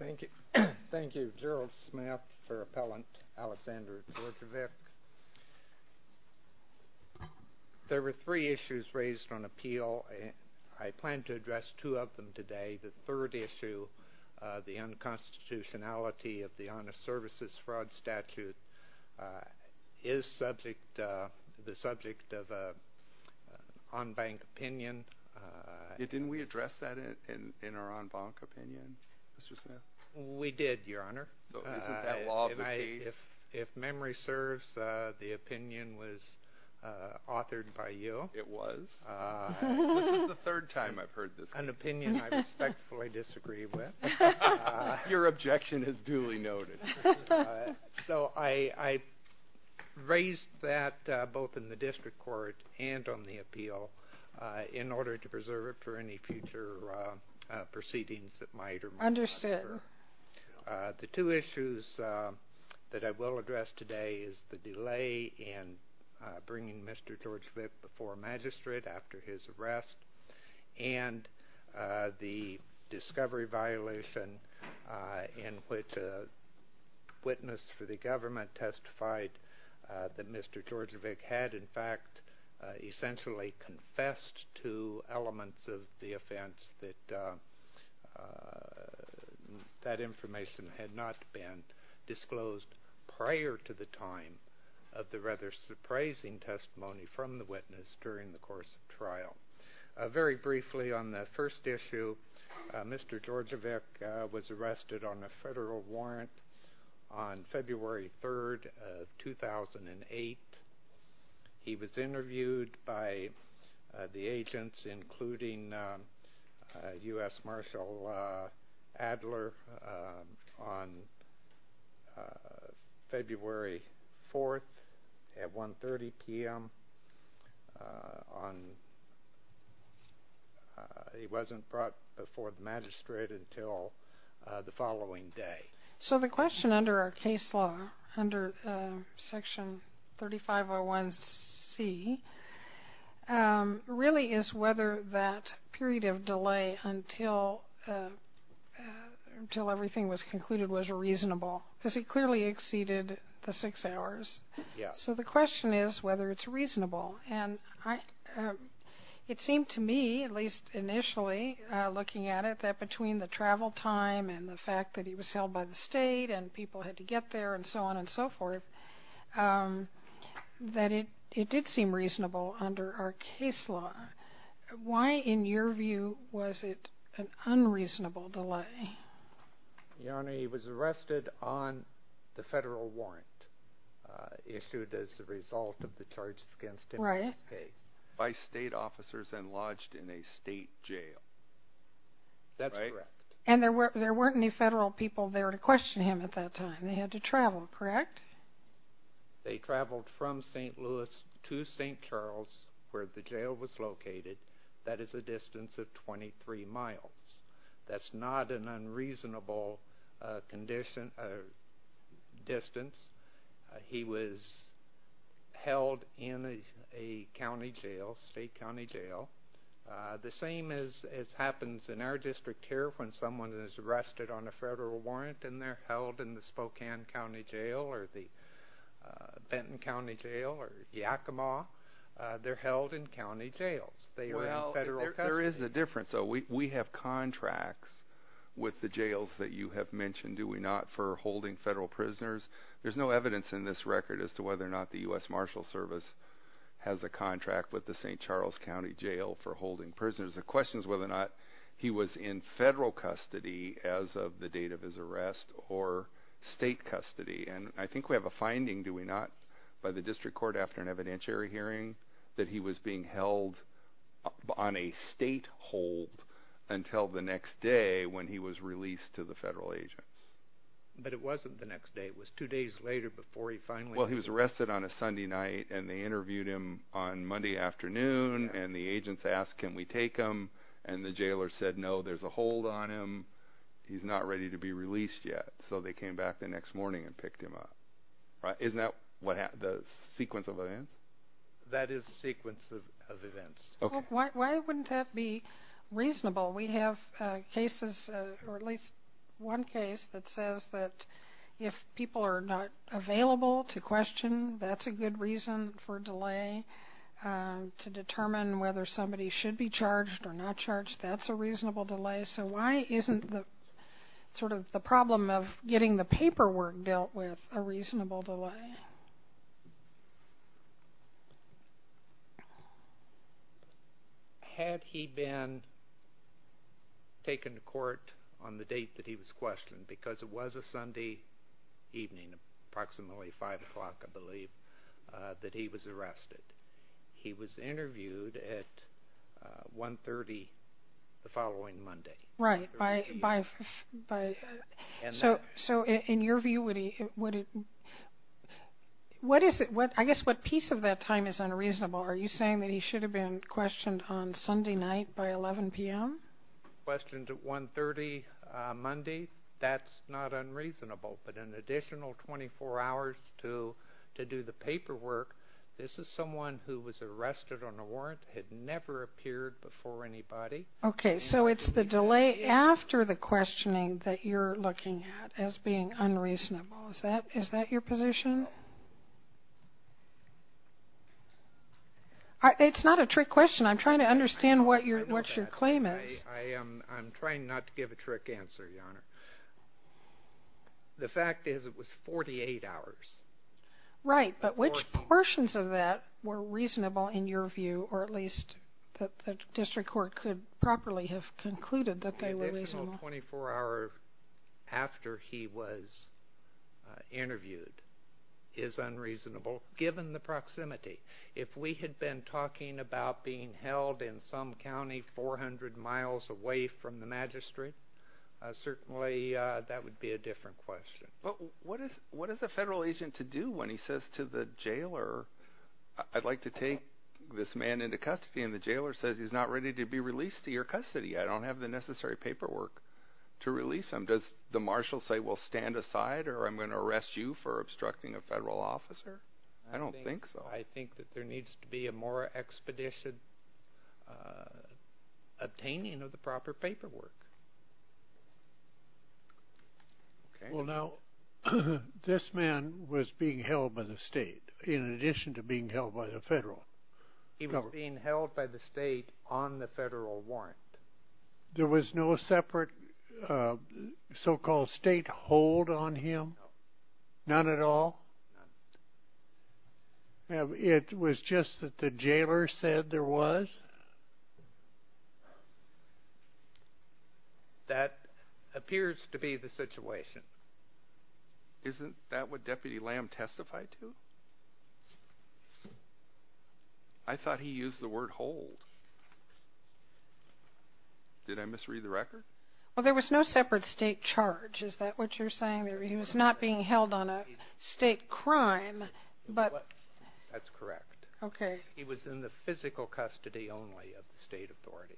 There were three issues raised on appeal. I plan to address two of them today. The third issue, the unconstitutionality of the Honest Services Fraud Statute, is the subject of an en banc opinion. Didn't we address that in our en banc opinion, Mr. Smith? We did, Your Honor. If memory serves, the opinion was authored by you. It was. This is the third time I've heard this. An opinion I respectfully disagree with. Your objection is duly noted. So I raised that both in the district court and on the appeal in order to preserve it for any future proceedings that might or might not occur. The two issues that I will address today is the delay in bringing Mr. Djordjevic before magistrate after his arrest and the discovery violation in which a witness for the government testified that Mr. Djordjevic had, in fact, essentially confessed to elements of the offense that that information had not been disclosed prior to the time of the rather surprising testimony from the witness during the course of trial. Very briefly on the first issue, Mr. Djordjevic was arrested on a federal warrant on February 3, 2008. He was interviewed by the agents, including U.S. Marshal Adler, on February 4 at 1.30 p.m. He wasn't brought before the magistrate until the following day. So the question under our case law, under Section 3501C, really is whether that period of delay until everything was concluded was reasonable because it clearly exceeded the six hours. So the question is whether it's reasonable. And it seemed to me, at least initially looking at it, that between the travel time and the fact that he was held by the state and people had to get there and so on and so forth, that it did seem reasonable under our case law. Why, in your view, was it an unreasonable delay? Your Honor, he was arrested on the federal warrant issued as a result of the charges against him in this case by state officers and lodged in a state jail. That's correct. And there weren't any federal people there to question him at that time. They had to travel, correct? They traveled from St. Louis to St. Charles, where the jail was located. That is a distance of 23 miles. That's not an unreasonable distance. He was held in a county jail, state county jail. The same as happens in our district here when someone is arrested on a federal warrant and they're held in the Spokane County Jail or the Benton County Jail or Yakima, they're held in county jails. There is a difference. We have contracts with the jails that you have mentioned, do we not, for holding federal prisoners? There's no evidence in this record as to whether or not the U.S. Marshals Service has a contract with the St. Charles County Jail for holding prisoners. The question is whether or not he was in federal custody as of the date of his arrest or state custody. And I think we have a finding, do we not, by the district court after an evidentiary hearing that he was being held on a state hold until the next day when he was released to the federal agents. But it wasn't the next day. It was two days later before he finally was released. Well, he was arrested on a Sunday night, and they interviewed him on Monday afternoon, and the agents asked, can we take him? And the jailer said, no, there's a hold on him. He's not ready to be released yet. So they came back the next morning and picked him up. Isn't that the sequence of events? That is the sequence of events. Why wouldn't that be reasonable? We have cases, or at least one case, that says that if people are not available to question, that's a good reason for delay. To determine whether somebody should be charged or not charged, that's a reasonable delay. So why isn't the problem of getting the paperwork dealt with a reasonable delay? Had he been taken to court on the date that he was questioned, because it was a Sunday evening, approximately 5 o'clock, I believe, that he was arrested. He was interviewed at 1.30 the following Monday. Right. So in your view, I guess what piece of that time is unreasonable? Are you saying that he should have been questioned on Sunday night by 11 p.m.? He was questioned at 1.30 Monday. That's not unreasonable. But an additional 24 hours to do the paperwork, this is someone who was arrested on a warrant, had never appeared before anybody. Okay. So it's the delay after the questioning that you're looking at as being unreasonable. Is that your position? It's not a trick question. I'm trying to understand what your claim is. I'm trying not to give a trick answer, Your Honor. The fact is it was 48 hours. Right, but which portions of that were reasonable in your view, or at least that the district court could properly have concluded that they were reasonable? An additional 24 hours after he was interviewed is unreasonable, given the proximity. If we had been talking about being held in some county 400 miles away from the magistrate, certainly that would be a different question. But what is a federal agent to do when he says to the jailer, I'd like to take this man into custody, and the jailer says he's not ready to be released to your custody? I don't have the necessary paperwork to release him. Does the marshal say, well, stand aside, or I'm going to arrest you for obstructing a federal officer? I don't think so. I think that there needs to be a more expeditious obtaining of the proper paperwork. Well, now, this man was being held by the state in addition to being held by the federal. He was being held by the state on the federal warrant. There was no separate so-called state hold on him? No. None at all? It was just that the jailer said there was? That appears to be the situation. Isn't that what Deputy Lamb testified to? I thought he used the word hold. Did I misread the record? Well, there was no separate state charge. Is that what you're saying? He was not being held on a state crime, but? That's correct. Okay. He was in the physical custody only of the state authorities.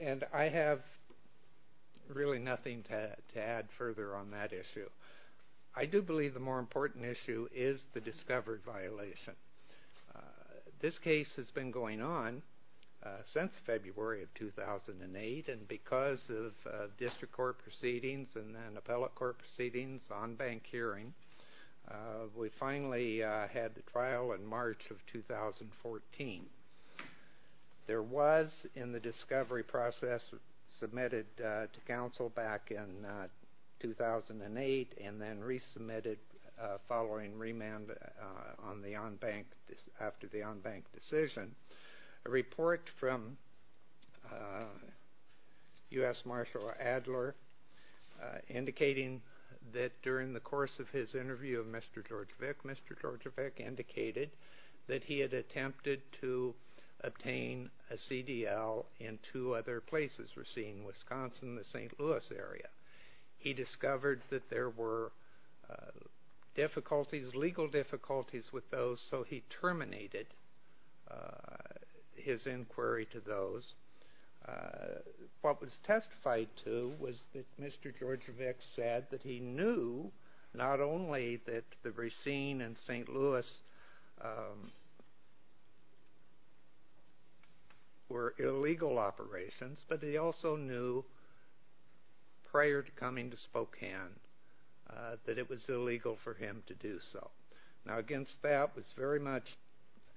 And I have really nothing to add further on that issue. I do believe the more important issue is the discovered violation. This case has been going on since February of 2008, and because of district court proceedings and then appellate court proceedings, on-bank hearing, we finally had the trial in March of 2014. There was in the discovery process submitted to counsel back in 2008 and then resubmitted following remand after the on-bank decision. A report from U.S. Marshal Adler indicating that during the course of his interview of Mr. Georgievic, Mr. Georgievic indicated that he had attempted to obtain a CDL in two other places. We're seeing Wisconsin and the St. Louis area. He discovered that there were difficulties, legal difficulties with those, so he terminated his inquiry to those. What was testified to was that Mr. Georgievic said that he knew not only that the Racine and St. Louis were illegal operations, but he also knew prior to coming to Spokane that it was illegal for him to do so. Now, against that was very much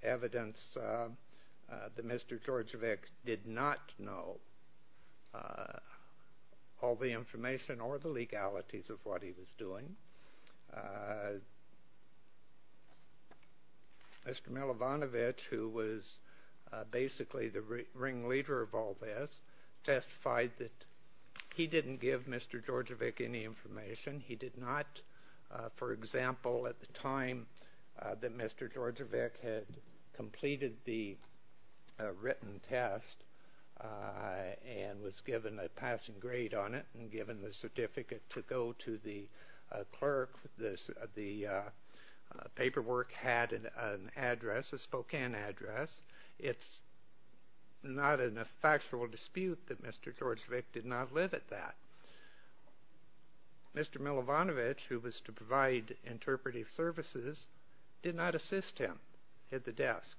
evidence that Mr. Georgievic did not know all the information or the legalities of what he was doing. Mr. Milovanovich, who was basically the ringleader of all this, testified that he didn't give Mr. Georgievic any information. He did not, for example, at the time that Mr. Georgievic had completed the written test and was given a passing grade on it and given the certificate to go to the clerk. The paperwork had an address, a Spokane address. It's not in a factual dispute that Mr. Georgievic did not live at that. Mr. Milovanovich, who was to provide interpretive services, did not assist him at the desk.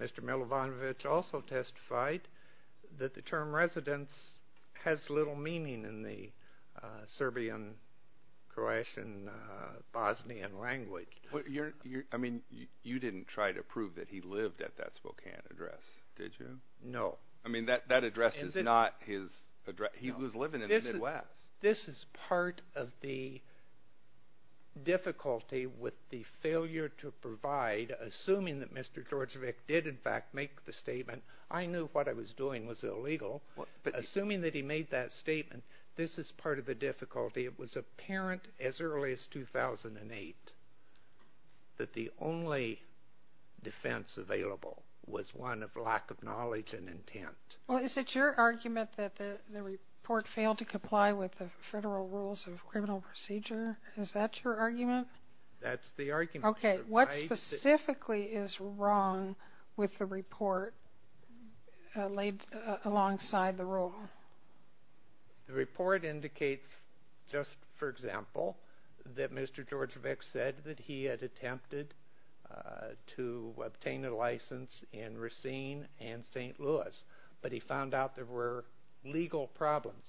Mr. Milovanovich also testified that the term residence has little meaning in the Serbian, Croatian, Bosnian language. You didn't try to prove that he lived at that Spokane address, did you? No. That address is not his address. He was living in the Midwest. This is part of the difficulty with the failure to provide, assuming that Mr. Georgievic did in fact make the statement, I knew what I was doing was illegal, but assuming that he made that statement, this is part of the difficulty. It was apparent as early as 2008 that the only defense available was one of lack of knowledge and intent. Is it your argument that the report failed to comply with the Federal Rules of Criminal Procedure? Is that your argument? That's the argument. What specifically is wrong with the report laid alongside the rule? The report indicates, just for example, that Mr. Georgievic said that he had attempted to obtain a license in Racine and St. Louis, but he found out there were legal problems.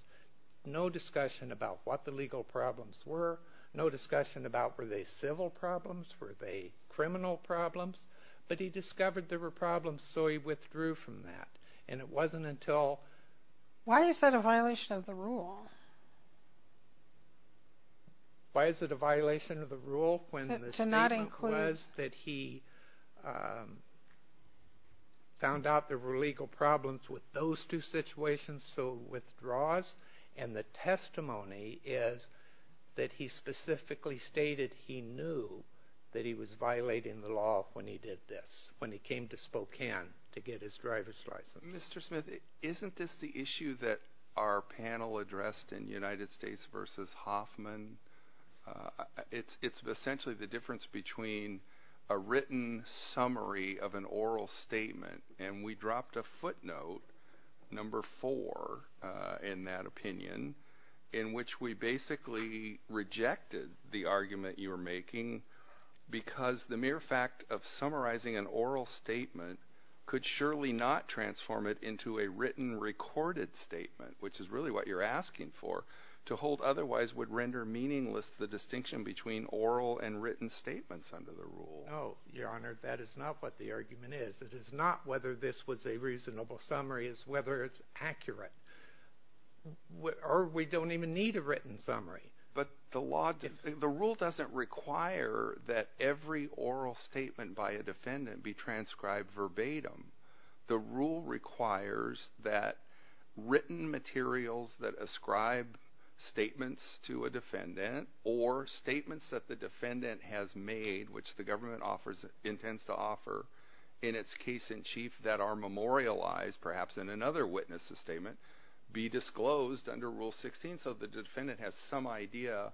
No discussion about what the legal problems were, no discussion about were they civil problems, were they criminal problems, but he discovered there were problems, so he withdrew from that. Why is that a violation of the rule? Why is it a violation of the rule? The statement was that he found out there were legal problems with those two situations, so withdraws, and the testimony is that he specifically stated he knew that he was violating the law when he did this, when he came to Spokane to get his driver's license. Mr. Smith, isn't this the issue that our panel addressed in United States v. Hoffman? It's essentially the difference between a written summary of an oral statement, and we dropped a footnote, number four in that opinion, in which we basically rejected the argument you were making because the mere fact of summarizing an oral statement could surely not transform it into a written recorded statement, which is really what you're asking for. To hold otherwise would render meaningless the distinction between oral and written statements under the rule. No, Your Honor, that is not what the argument is. It is not whether this was a reasonable summary. It's whether it's accurate, or we don't even need a written summary. But the rule doesn't require that every oral statement by a defendant be transcribed verbatim. The rule requires that written materials that ascribe statements to a defendant or statements that the defendant has made, which the government intends to offer in its case in chief that are memorialized perhaps in another witness's statement, be disclosed under Rule 16, so the defendant has some idea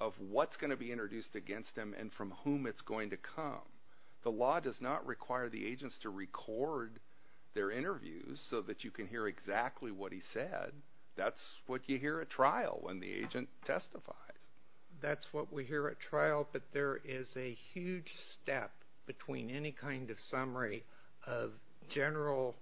of what's going to be introduced against them and from whom it's going to come. The law does not require the agents to record their interviews so that you can hear exactly what he said. That's what you hear at trial when the agent testifies. That's what we hear at trial, but there is a huge step between any kind of summary of general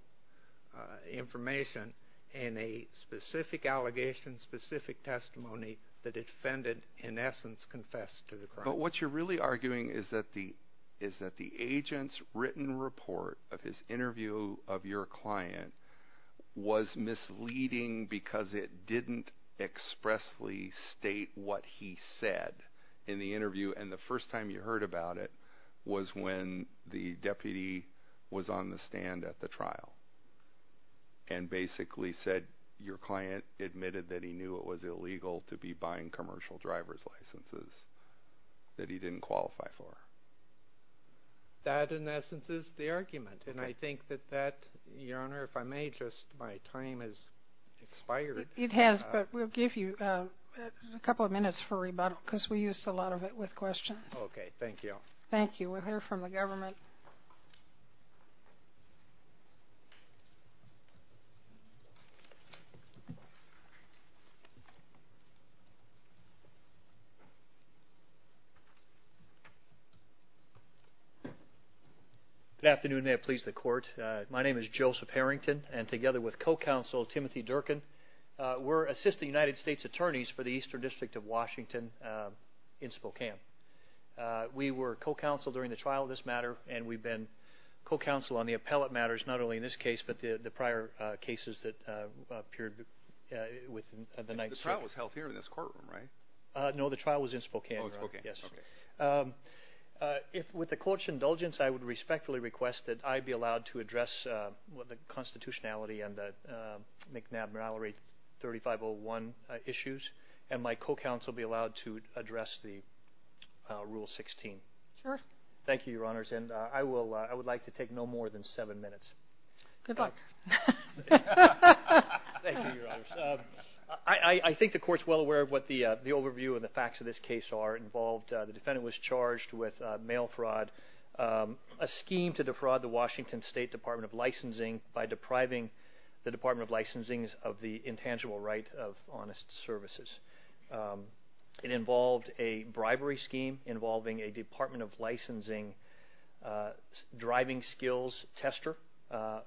information and a specific allegation, specific testimony, that a defendant in essence confessed to the crime. But what you're really arguing is that the agent's written report of his interview of your client was misleading because it didn't expressly state what he said in the interview, and the first time you heard about it was when the deputy was on the stand at the trial and basically said your client admitted that he knew it was illegal to be buying commercial driver's licenses that he didn't qualify for. That in essence is the argument, and I think that that, Your Honor, if I may, just my time has expired. It has, but we'll give you a couple of minutes for rebuttal because we used a lot of it with questions. Okay, thank you. Thank you. We'll hear from the government. Good afternoon. May it please the Court. My name is Joseph Harrington, and together with co-counsel Timothy Durkin, we're assistant United States attorneys for the Eastern District of Washington in Spokane. We were co-counsel during the trial of this matter, and we've been co-counsel on the appellate matters not only in this case but the prior cases that appeared within the night's trial. The trial was held here in this courtroom, right? No, the trial was in Spokane, Your Honor. Oh, Spokane. Yes. With the court's indulgence, I would respectfully request that I be allowed to address the constitutionality and the McNabb-Mallory 3501 issues, and my co-counsel be allowed to address the Rule 16. Sure. Thank you, Your Honors. And I would like to take no more than seven minutes. Good luck. Thank you, Your Honors. I think the Court's well aware of what the overview and the facts of this case are. It involved the defendant was charged with mail fraud, a scheme to defraud the Washington State Department of Licensing by depriving the Department of Licensing of the intangible right of honest services. It involved a bribery scheme involving a Department of Licensing driving skills tester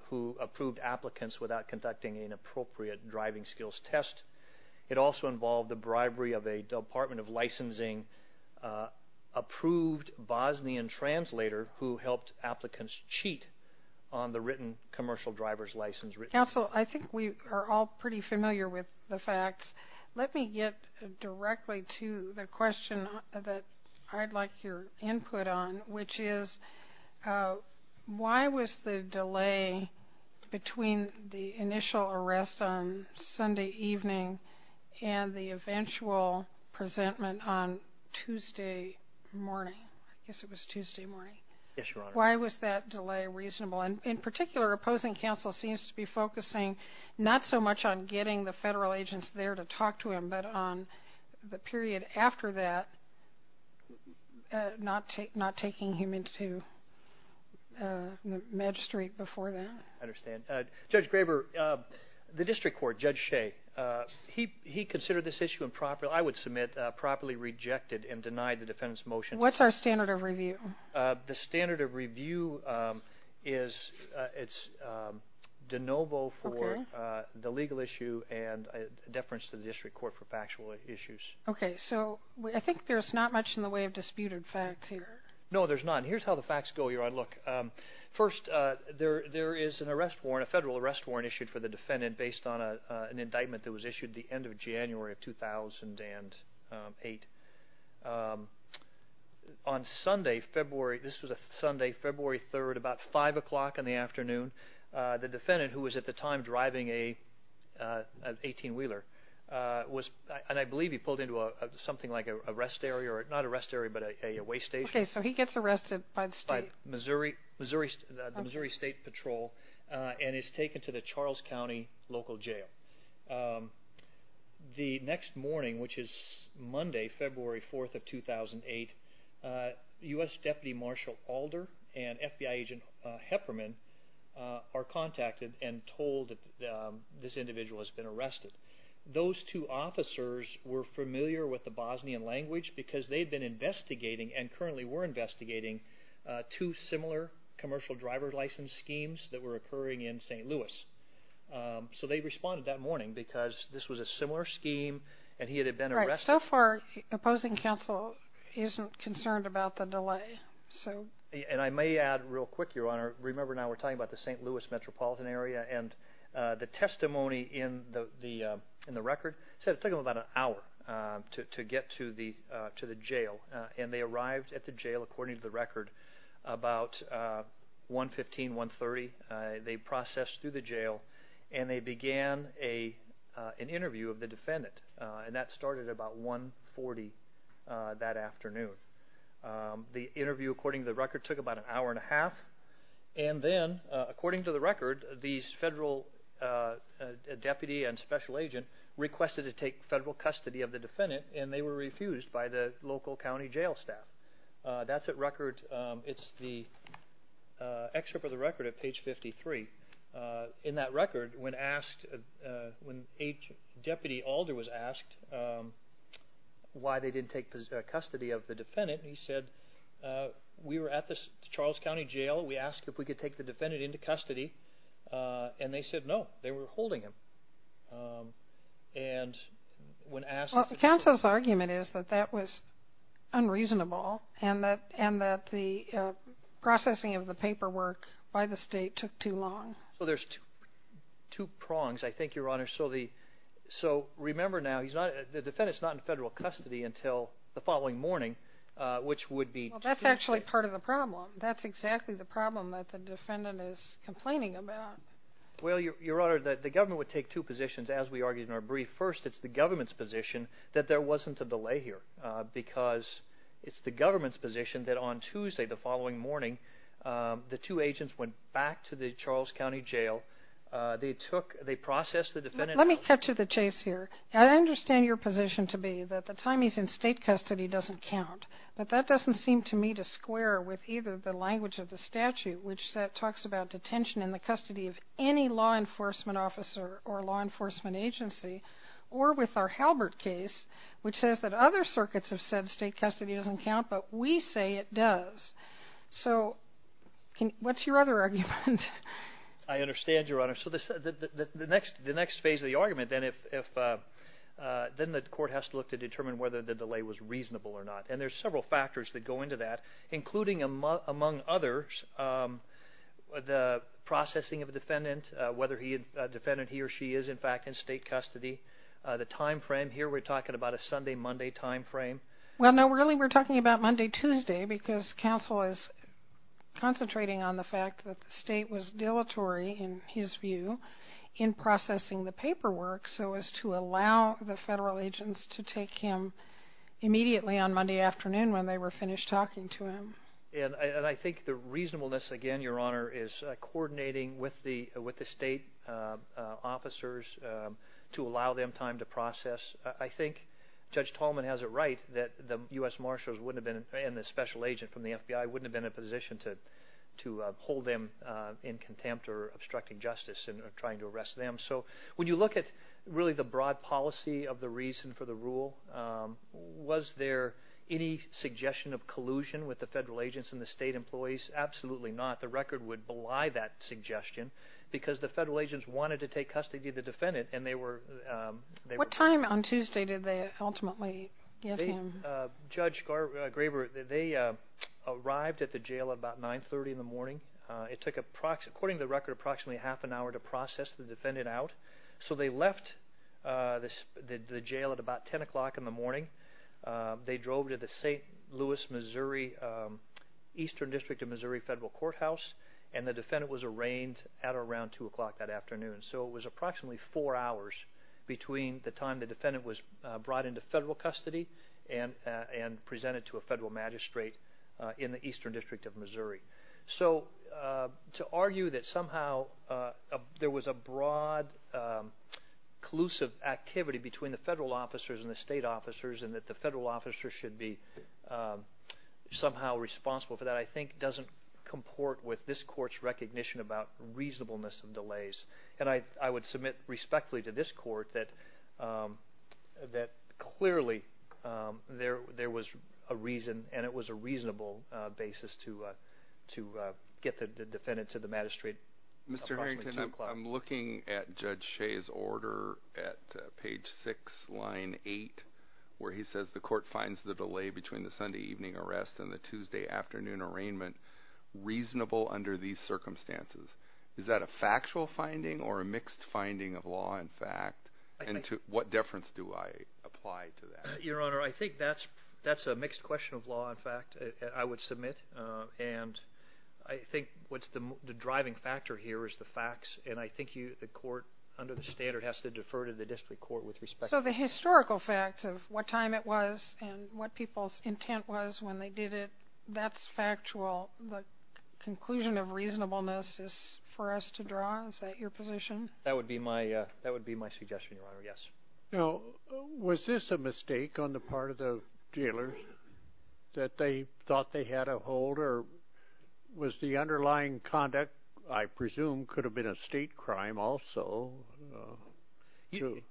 who approved applicants without conducting an appropriate driving skills test. It also involved the bribery of a Department of Licensing approved Bosnian translator who helped applicants cheat on the written commercial driver's license. Counsel, I think we are all pretty familiar with the facts. Let me get directly to the question that I'd like your input on, which is why was the delay between the initial arrest on Sunday evening and the eventual presentment on Tuesday morning? I guess it was Tuesday morning. Yes, Your Honor. Why was that delay reasonable? In particular, opposing counsel seems to be focusing not so much on getting the federal agents there to talk to him, but on the period after that not taking him into magistrate before then. I understand. Judge Graber, the district court, Judge Shea, he considered this issue improper. I would submit properly rejected and denied the defendant's motion. What's our standard of review? The standard of review is de novo for the legal issue and deference to the district court for factual issues. Okay. So I think there's not much in the way of disputed facts here. Here's how the facts go, Your Honor. First, there is a federal arrest warrant issued for the defendant based on an indictment that was issued the end of January of 2008. This was a Sunday, February 3rd, about 5 o'clock in the afternoon. The defendant, who was at the time driving an 18-wheeler, and I believe he pulled into something like a waste station. Okay, so he gets arrested by the state? By the Missouri State Patrol and is taken to the Charles County local jail. The next morning, which is Monday, February 4th of 2008, U.S. Deputy Marshal Alder and FBI Agent Hepperman are contacted and told that this individual has been arrested. Those two officers were familiar with the Bosnian language because they've been investigating and currently were investigating two similar commercial driver license schemes that were occurring in St. Louis. So they responded that morning because this was a similar scheme and he had been arrested. Right. So far, opposing counsel isn't concerned about the delay. And I may add real quick, Your Honor, remember now we're talking about the St. Louis metropolitan area, and the testimony in the record said it took him about an hour to get to the jail and they arrived at the jail, according to the record, about 115, 130. They processed through the jail and they began an interview of the defendant and that started about 140 that afternoon. The interview, according to the record, took about an hour and a half and then, according to the record, these federal deputy and special agent requested to take federal custody of the defendant and they were refused by the local county jail staff. That's at record. It's the excerpt of the record at page 53. In that record, when Deputy Alder was asked why they didn't take custody of the defendant, he said, we were at the Charles County Jail. We asked if we could take the defendant into custody and they said no. They were holding him. Counsel's argument is that that was unreasonable and that the processing of the paperwork by the state took too long. So there's two prongs, I think, Your Honor. So remember now, the defendant's not in federal custody until the following morning, which would be Tuesday. That's actually part of the problem. That's exactly the problem that the defendant is complaining about. Well, Your Honor, the government would take two positions, as we argued in our brief. First, it's the government's position that there wasn't a delay here because it's the government's position that on Tuesday, the following morning, the two agents went back to the Charles County Jail. They processed the defendant. Let me cut to the chase here. I understand your position to be that the time he's in state custody doesn't count, but that doesn't seem to me to square with either the language of the statute, which talks about detention in the custody of any law enforcement officer or law enforcement agency, or with our Halbert case, which says that other circuits have said state custody doesn't count, but we say it does. So what's your other argument? I understand, Your Honor. So the next phase of the argument, then the court has to look to determine whether the delay was reasonable or not, and there's several factors that go into that, including, among others, the processing of the defendant, whether the defendant, he or she, is in fact in state custody, the time frame. Here we're talking about a Sunday-Monday time frame. Well, no, really we're talking about Monday-Tuesday because counsel is concentrating on the fact that the state was dilatory, in his view, in processing the paperwork so as to allow the federal agents to take him immediately on Monday afternoon when they were finished talking to him. And I think the reasonableness, again, Your Honor, is coordinating with the state officers to allow them time to process. I think Judge Tallman has it right that the U.S. Marshals and the special agent from the FBI wouldn't have been in a position to hold them in contempt or obstructing justice in trying to arrest them. So when you look at really the broad policy of the reason for the rule, was there any suggestion of collusion with the federal agents and the state employees? Absolutely not. The record would belie that suggestion because the federal agents wanted to take custody of the defendant and they were— What time on Tuesday did they ultimately get him? Judge Graber, they arrived at the jail at about 930 in the morning. It took, according to the record, approximately half an hour to process the defendant out. So they left the jail at about 10 o'clock in the morning. They drove to the St. Louis, Missouri, Eastern District of Missouri Federal Courthouse, and the defendant was arraigned at or around 2 o'clock that afternoon. So it was approximately four hours between the time the defendant was brought into federal custody and presented to a federal magistrate in the Eastern District of Missouri. So to argue that somehow there was a broad collusive activity between the federal officers and the state officers and that the federal officers should be somehow responsible for that, I think doesn't comport with this court's recognition about reasonableness of delays. And I would submit respectfully to this court that clearly there was a reason and it was a reasonable basis to get the defendant to the magistrate approximately 2 o'clock. Mr. Harrington, I'm looking at Judge Shea's order at page 6, line 8, where he says the court finds the delay between the Sunday evening arrest and the Tuesday afternoon arraignment reasonable under these circumstances. Is that a factual finding or a mixed finding of law and fact? And to what deference do I apply to that? Your Honor, I think that's a mixed question of law and fact, I would submit. And I think what's the driving factor here is the facts, and I think the court under the standard has to defer to the district court with respect to that. So the historical facts of what time it was and what people's intent was when they did it, that's factual. The conclusion of reasonableness is for us to draw? Is that your position? That would be my suggestion, Your Honor, yes. Now was this a mistake on the part of the jailers that they thought they had a hold or was the underlying conduct, I presume, could have been a state crime also?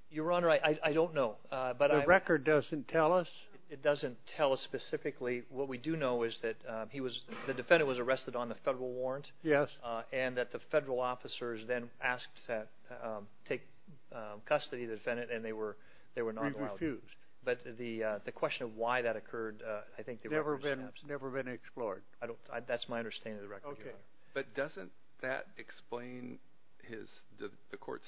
Your Honor, I don't know. The record doesn't tell us? It doesn't tell us specifically. What we do know is that the defendant was arrested on the federal warrant and that the federal officers then asked to take custody of the defendant, and they were not allowed. They refused. But the question of why that occurred, I think, never has been answered. It's never been explored. That's my understanding of the record, Your Honor. But doesn't that explain the court's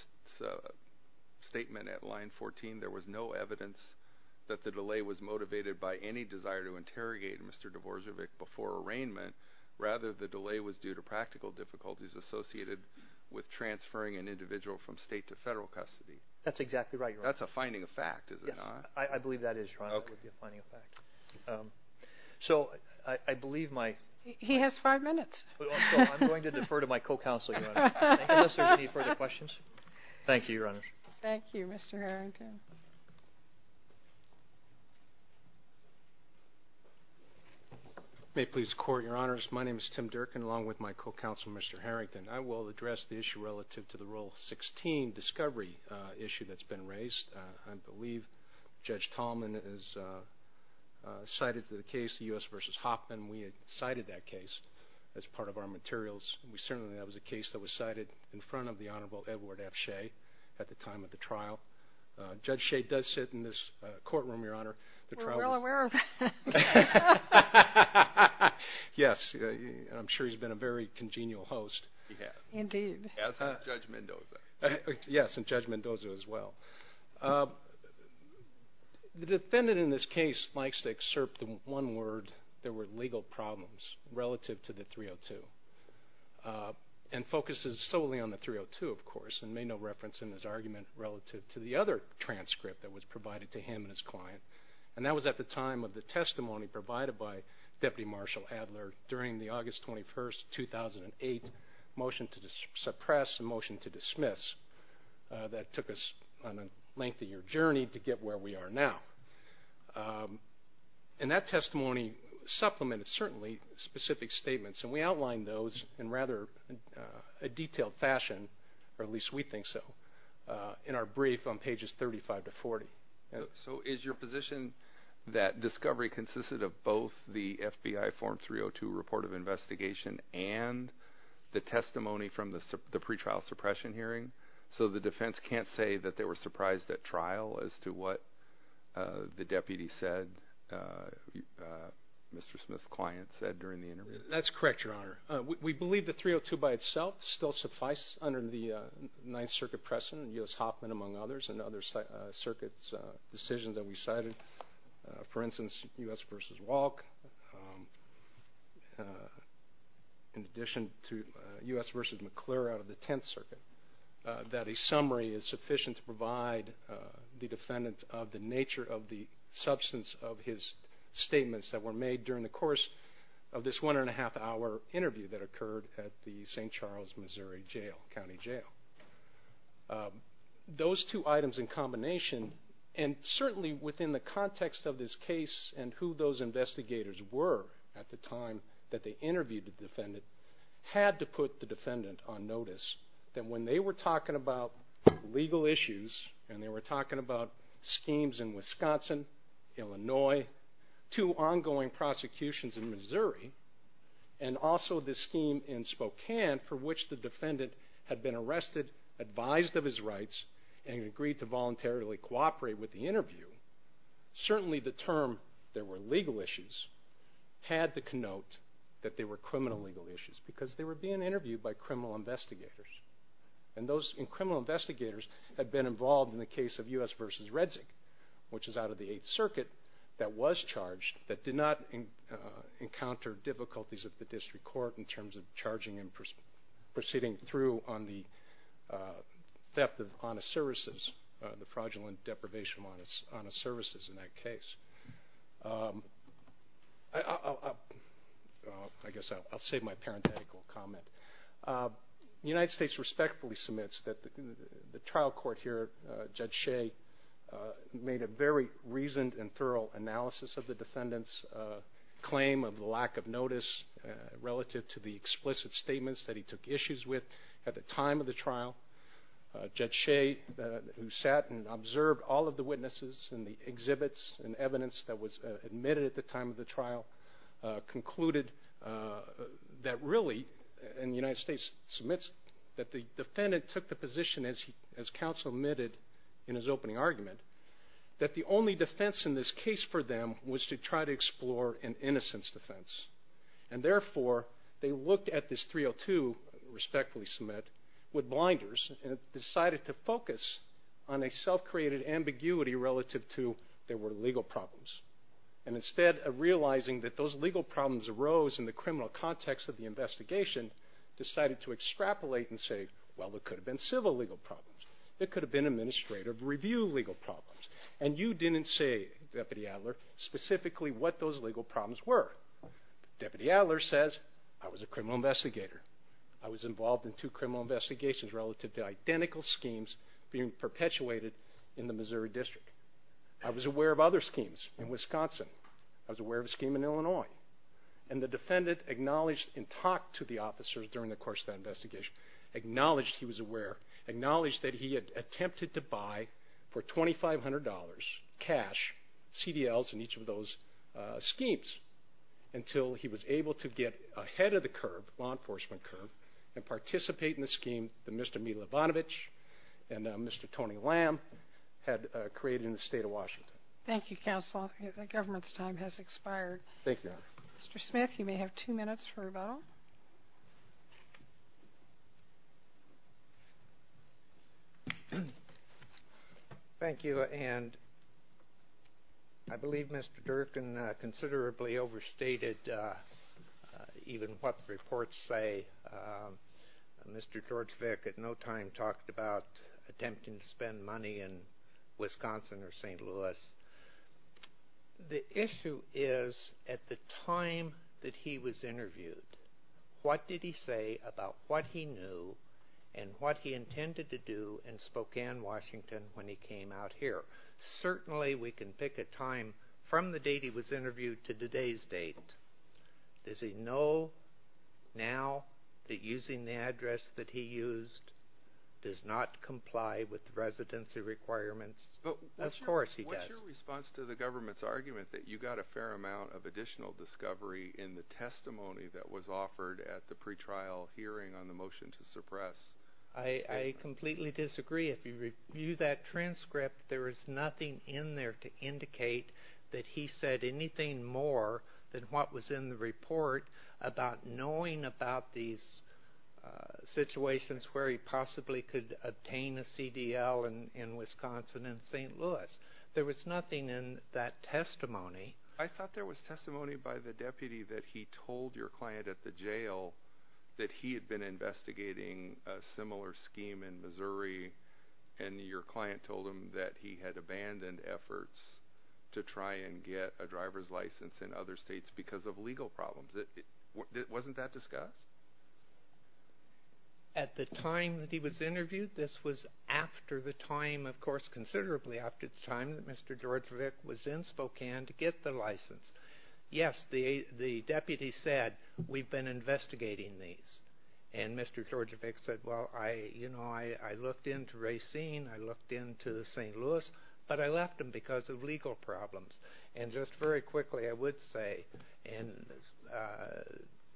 statement at line 14, there was no evidence that the delay was motivated by any desire to interrogate Mr. Dvořávek before arraignment, rather the delay was due to practical difficulties associated with transferring an individual from state to federal custody? That's exactly right, Your Honor. That's a finding of fact, is it not? Yes, I believe that is, Your Honor. Okay. It would be a finding of fact. So I believe my... He has five minutes. So I'm going to defer to my co-counsel, Your Honor, unless there's any further questions. Thank you, Your Honor. Thank you, Mr. Harrington. May it please the Court, Your Honors. My name is Tim Durkin, along with my co-counsel, Mr. Harrington. I will address the issue relative to the Rule 16 discovery issue that's been raised. I believe Judge Tallman has cited the case, the U.S. v. Hoffman. We had cited that case as part of our materials. Certainly, that was a case that was cited in front of the Honorable Edward F. Shea at the time of the trial. Judge Shea does sit in this courtroom, Your Honor. We're well aware of that. Yes, and I'm sure he's been a very congenial host. He has. Indeed. As has Judge Mendoza. Yes, and Judge Mendoza as well. The defendant in this case likes to excerpt the one word, there were legal problems relative to the 302, and focuses solely on the 302, of course, and made no reference in his argument relative to the other transcript that was provided to him and his client. And that was at the time of the testimony provided by Deputy Marshal Adler during the August 21st, 2008, motion to suppress and motion to dismiss that took us on a length of your journey to get where we are now. And that testimony supplemented, certainly, specific statements, and we outlined those in rather a detailed fashion, or at least we think so, in our brief on pages 35 to 40. So is your position that discovery consisted of both the FBI form 302 report of investigation and the testimony from the pretrial suppression hearing? So the defense can't say that they were surprised at trial as to what the deputy said, Mr. Smith's client said during the interview? That's correct, Your Honor. We believe the 302 by itself still suffice under the Ninth Circuit precedent, U.S. Hoffman among others, and other circuits' decisions that we cited. For instance, U.S. v. Walke, in addition to U.S. v. McClure out of the Tenth Circuit, that a summary is sufficient to provide the defendant of the nature of the substance of his statements that were made during the course of this one-and-a-half-hour interview that occurred at the St. Charles, Missouri County Jail. Those two items in combination, and certainly within the context of this case and who those investigators were at the time that they interviewed the defendant, had to put the defendant on notice that when they were talking about legal issues, and they were talking about schemes in Wisconsin, Illinois, two ongoing prosecutions in Missouri, and also the scheme in Spokane for which the defendant had been arrested, advised of his rights, and agreed to voluntarily cooperate with the interview, certainly the term there were legal issues had to connote that there were criminal legal issues because they were being interviewed by criminal investigators. And those criminal investigators had been involved in the case of U.S. v. Redzic, which is out of the Eighth Circuit, that was charged, that did not encounter difficulties at the district court in terms of charging and proceeding through on the theft of honest services, the fraudulent deprivation of honest services in that case. I guess I'll save my parenthetical comment. The United States respectfully submits that the trial court here, Judge Shea, made a very reasoned and thorough analysis of the defendant's claim of lack of notice relative to the explicit statements that he took issues with at the time of the trial. Judge Shea, who sat and observed all of the witnesses and the exhibits and evidence that was admitted at the time of the trial, concluded that really, and the United States submits, that the defendant took the position, as counsel admitted in his opening argument, that the only defense in this case for them was to try to explore an innocence defense. And therefore, they looked at this 302, respectfully submit, with blinders and decided to focus on a self-created ambiguity relative to there were legal problems. And instead of realizing that those legal problems arose in the criminal context of the investigation, decided to extrapolate and say, well, there could have been civil legal problems. There could have been administrative review legal problems. And you didn't say, Deputy Adler, specifically what those legal problems were. Deputy Adler says, I was a criminal investigator. I was involved in two criminal investigations relative to identical schemes being perpetuated in the Missouri District. I was aware of other schemes in Wisconsin. I was aware of a scheme in Illinois. And the defendant acknowledged and talked to the officers during the course of that investigation, acknowledged he was aware, acknowledged that he had attempted to buy for $2,500 cash, CDLs in each of those schemes, until he was able to get ahead of the curve, law enforcement curve, and participate in the scheme that Mr. Milibonovich and Mr. Tony Lamb had created in the state of Washington. Thank you, counsel. The government's time has expired. Thank you. Mr. Smith, you may have two minutes for rebuttal. Thank you. And I believe Mr. Durkin considerably overstated even what the reports say. Mr. George Vick at no time talked about attempting to spend money in Wisconsin or St. Louis. The issue is at the time that he was interviewed, what did he say about what he knew and what he intended to do in Spokane, Washington, when he came out here? Certainly we can pick a time from the date he was interviewed to today's date. Does he know now that using the address that he used does not comply with residency requirements? Of course he does. What's your response to the government's argument that you got a fair amount of additional discovery in the testimony that was offered at the pretrial hearing on the motion to suppress? I completely disagree. If you review that transcript, there is nothing in there to indicate that he said anything more than what was in the report about knowing about these situations where he possibly could obtain a CDL in Wisconsin and St. Louis. There was nothing in that testimony. I thought there was testimony by the deputy that he told your client at the jail that he had been investigating a similar scheme in Missouri, and your client told him that he had abandoned efforts to try and get a driver's license in other states because of legal problems. Wasn't that discussed? At the time that he was interviewed, this was after the time, of course considerably after the time, that Mr. Djordjevic was in Spokane to get the license. Yes, the deputy said, we've been investigating these. And Mr. Djordjevic said, well, you know, I looked into Racine, I looked into St. Louis, but I left them because of legal problems. And just very quickly, I would say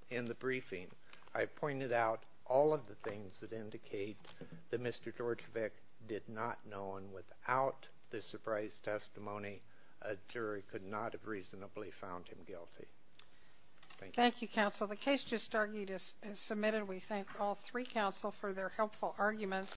in the briefing, I pointed out all of the things that indicate that Mr. Djordjevic did not know, and without the surprise testimony, a jury could not have reasonably found him guilty. Thank you, counsel. The case just submitted. We thank all three counsel for their helpful arguments.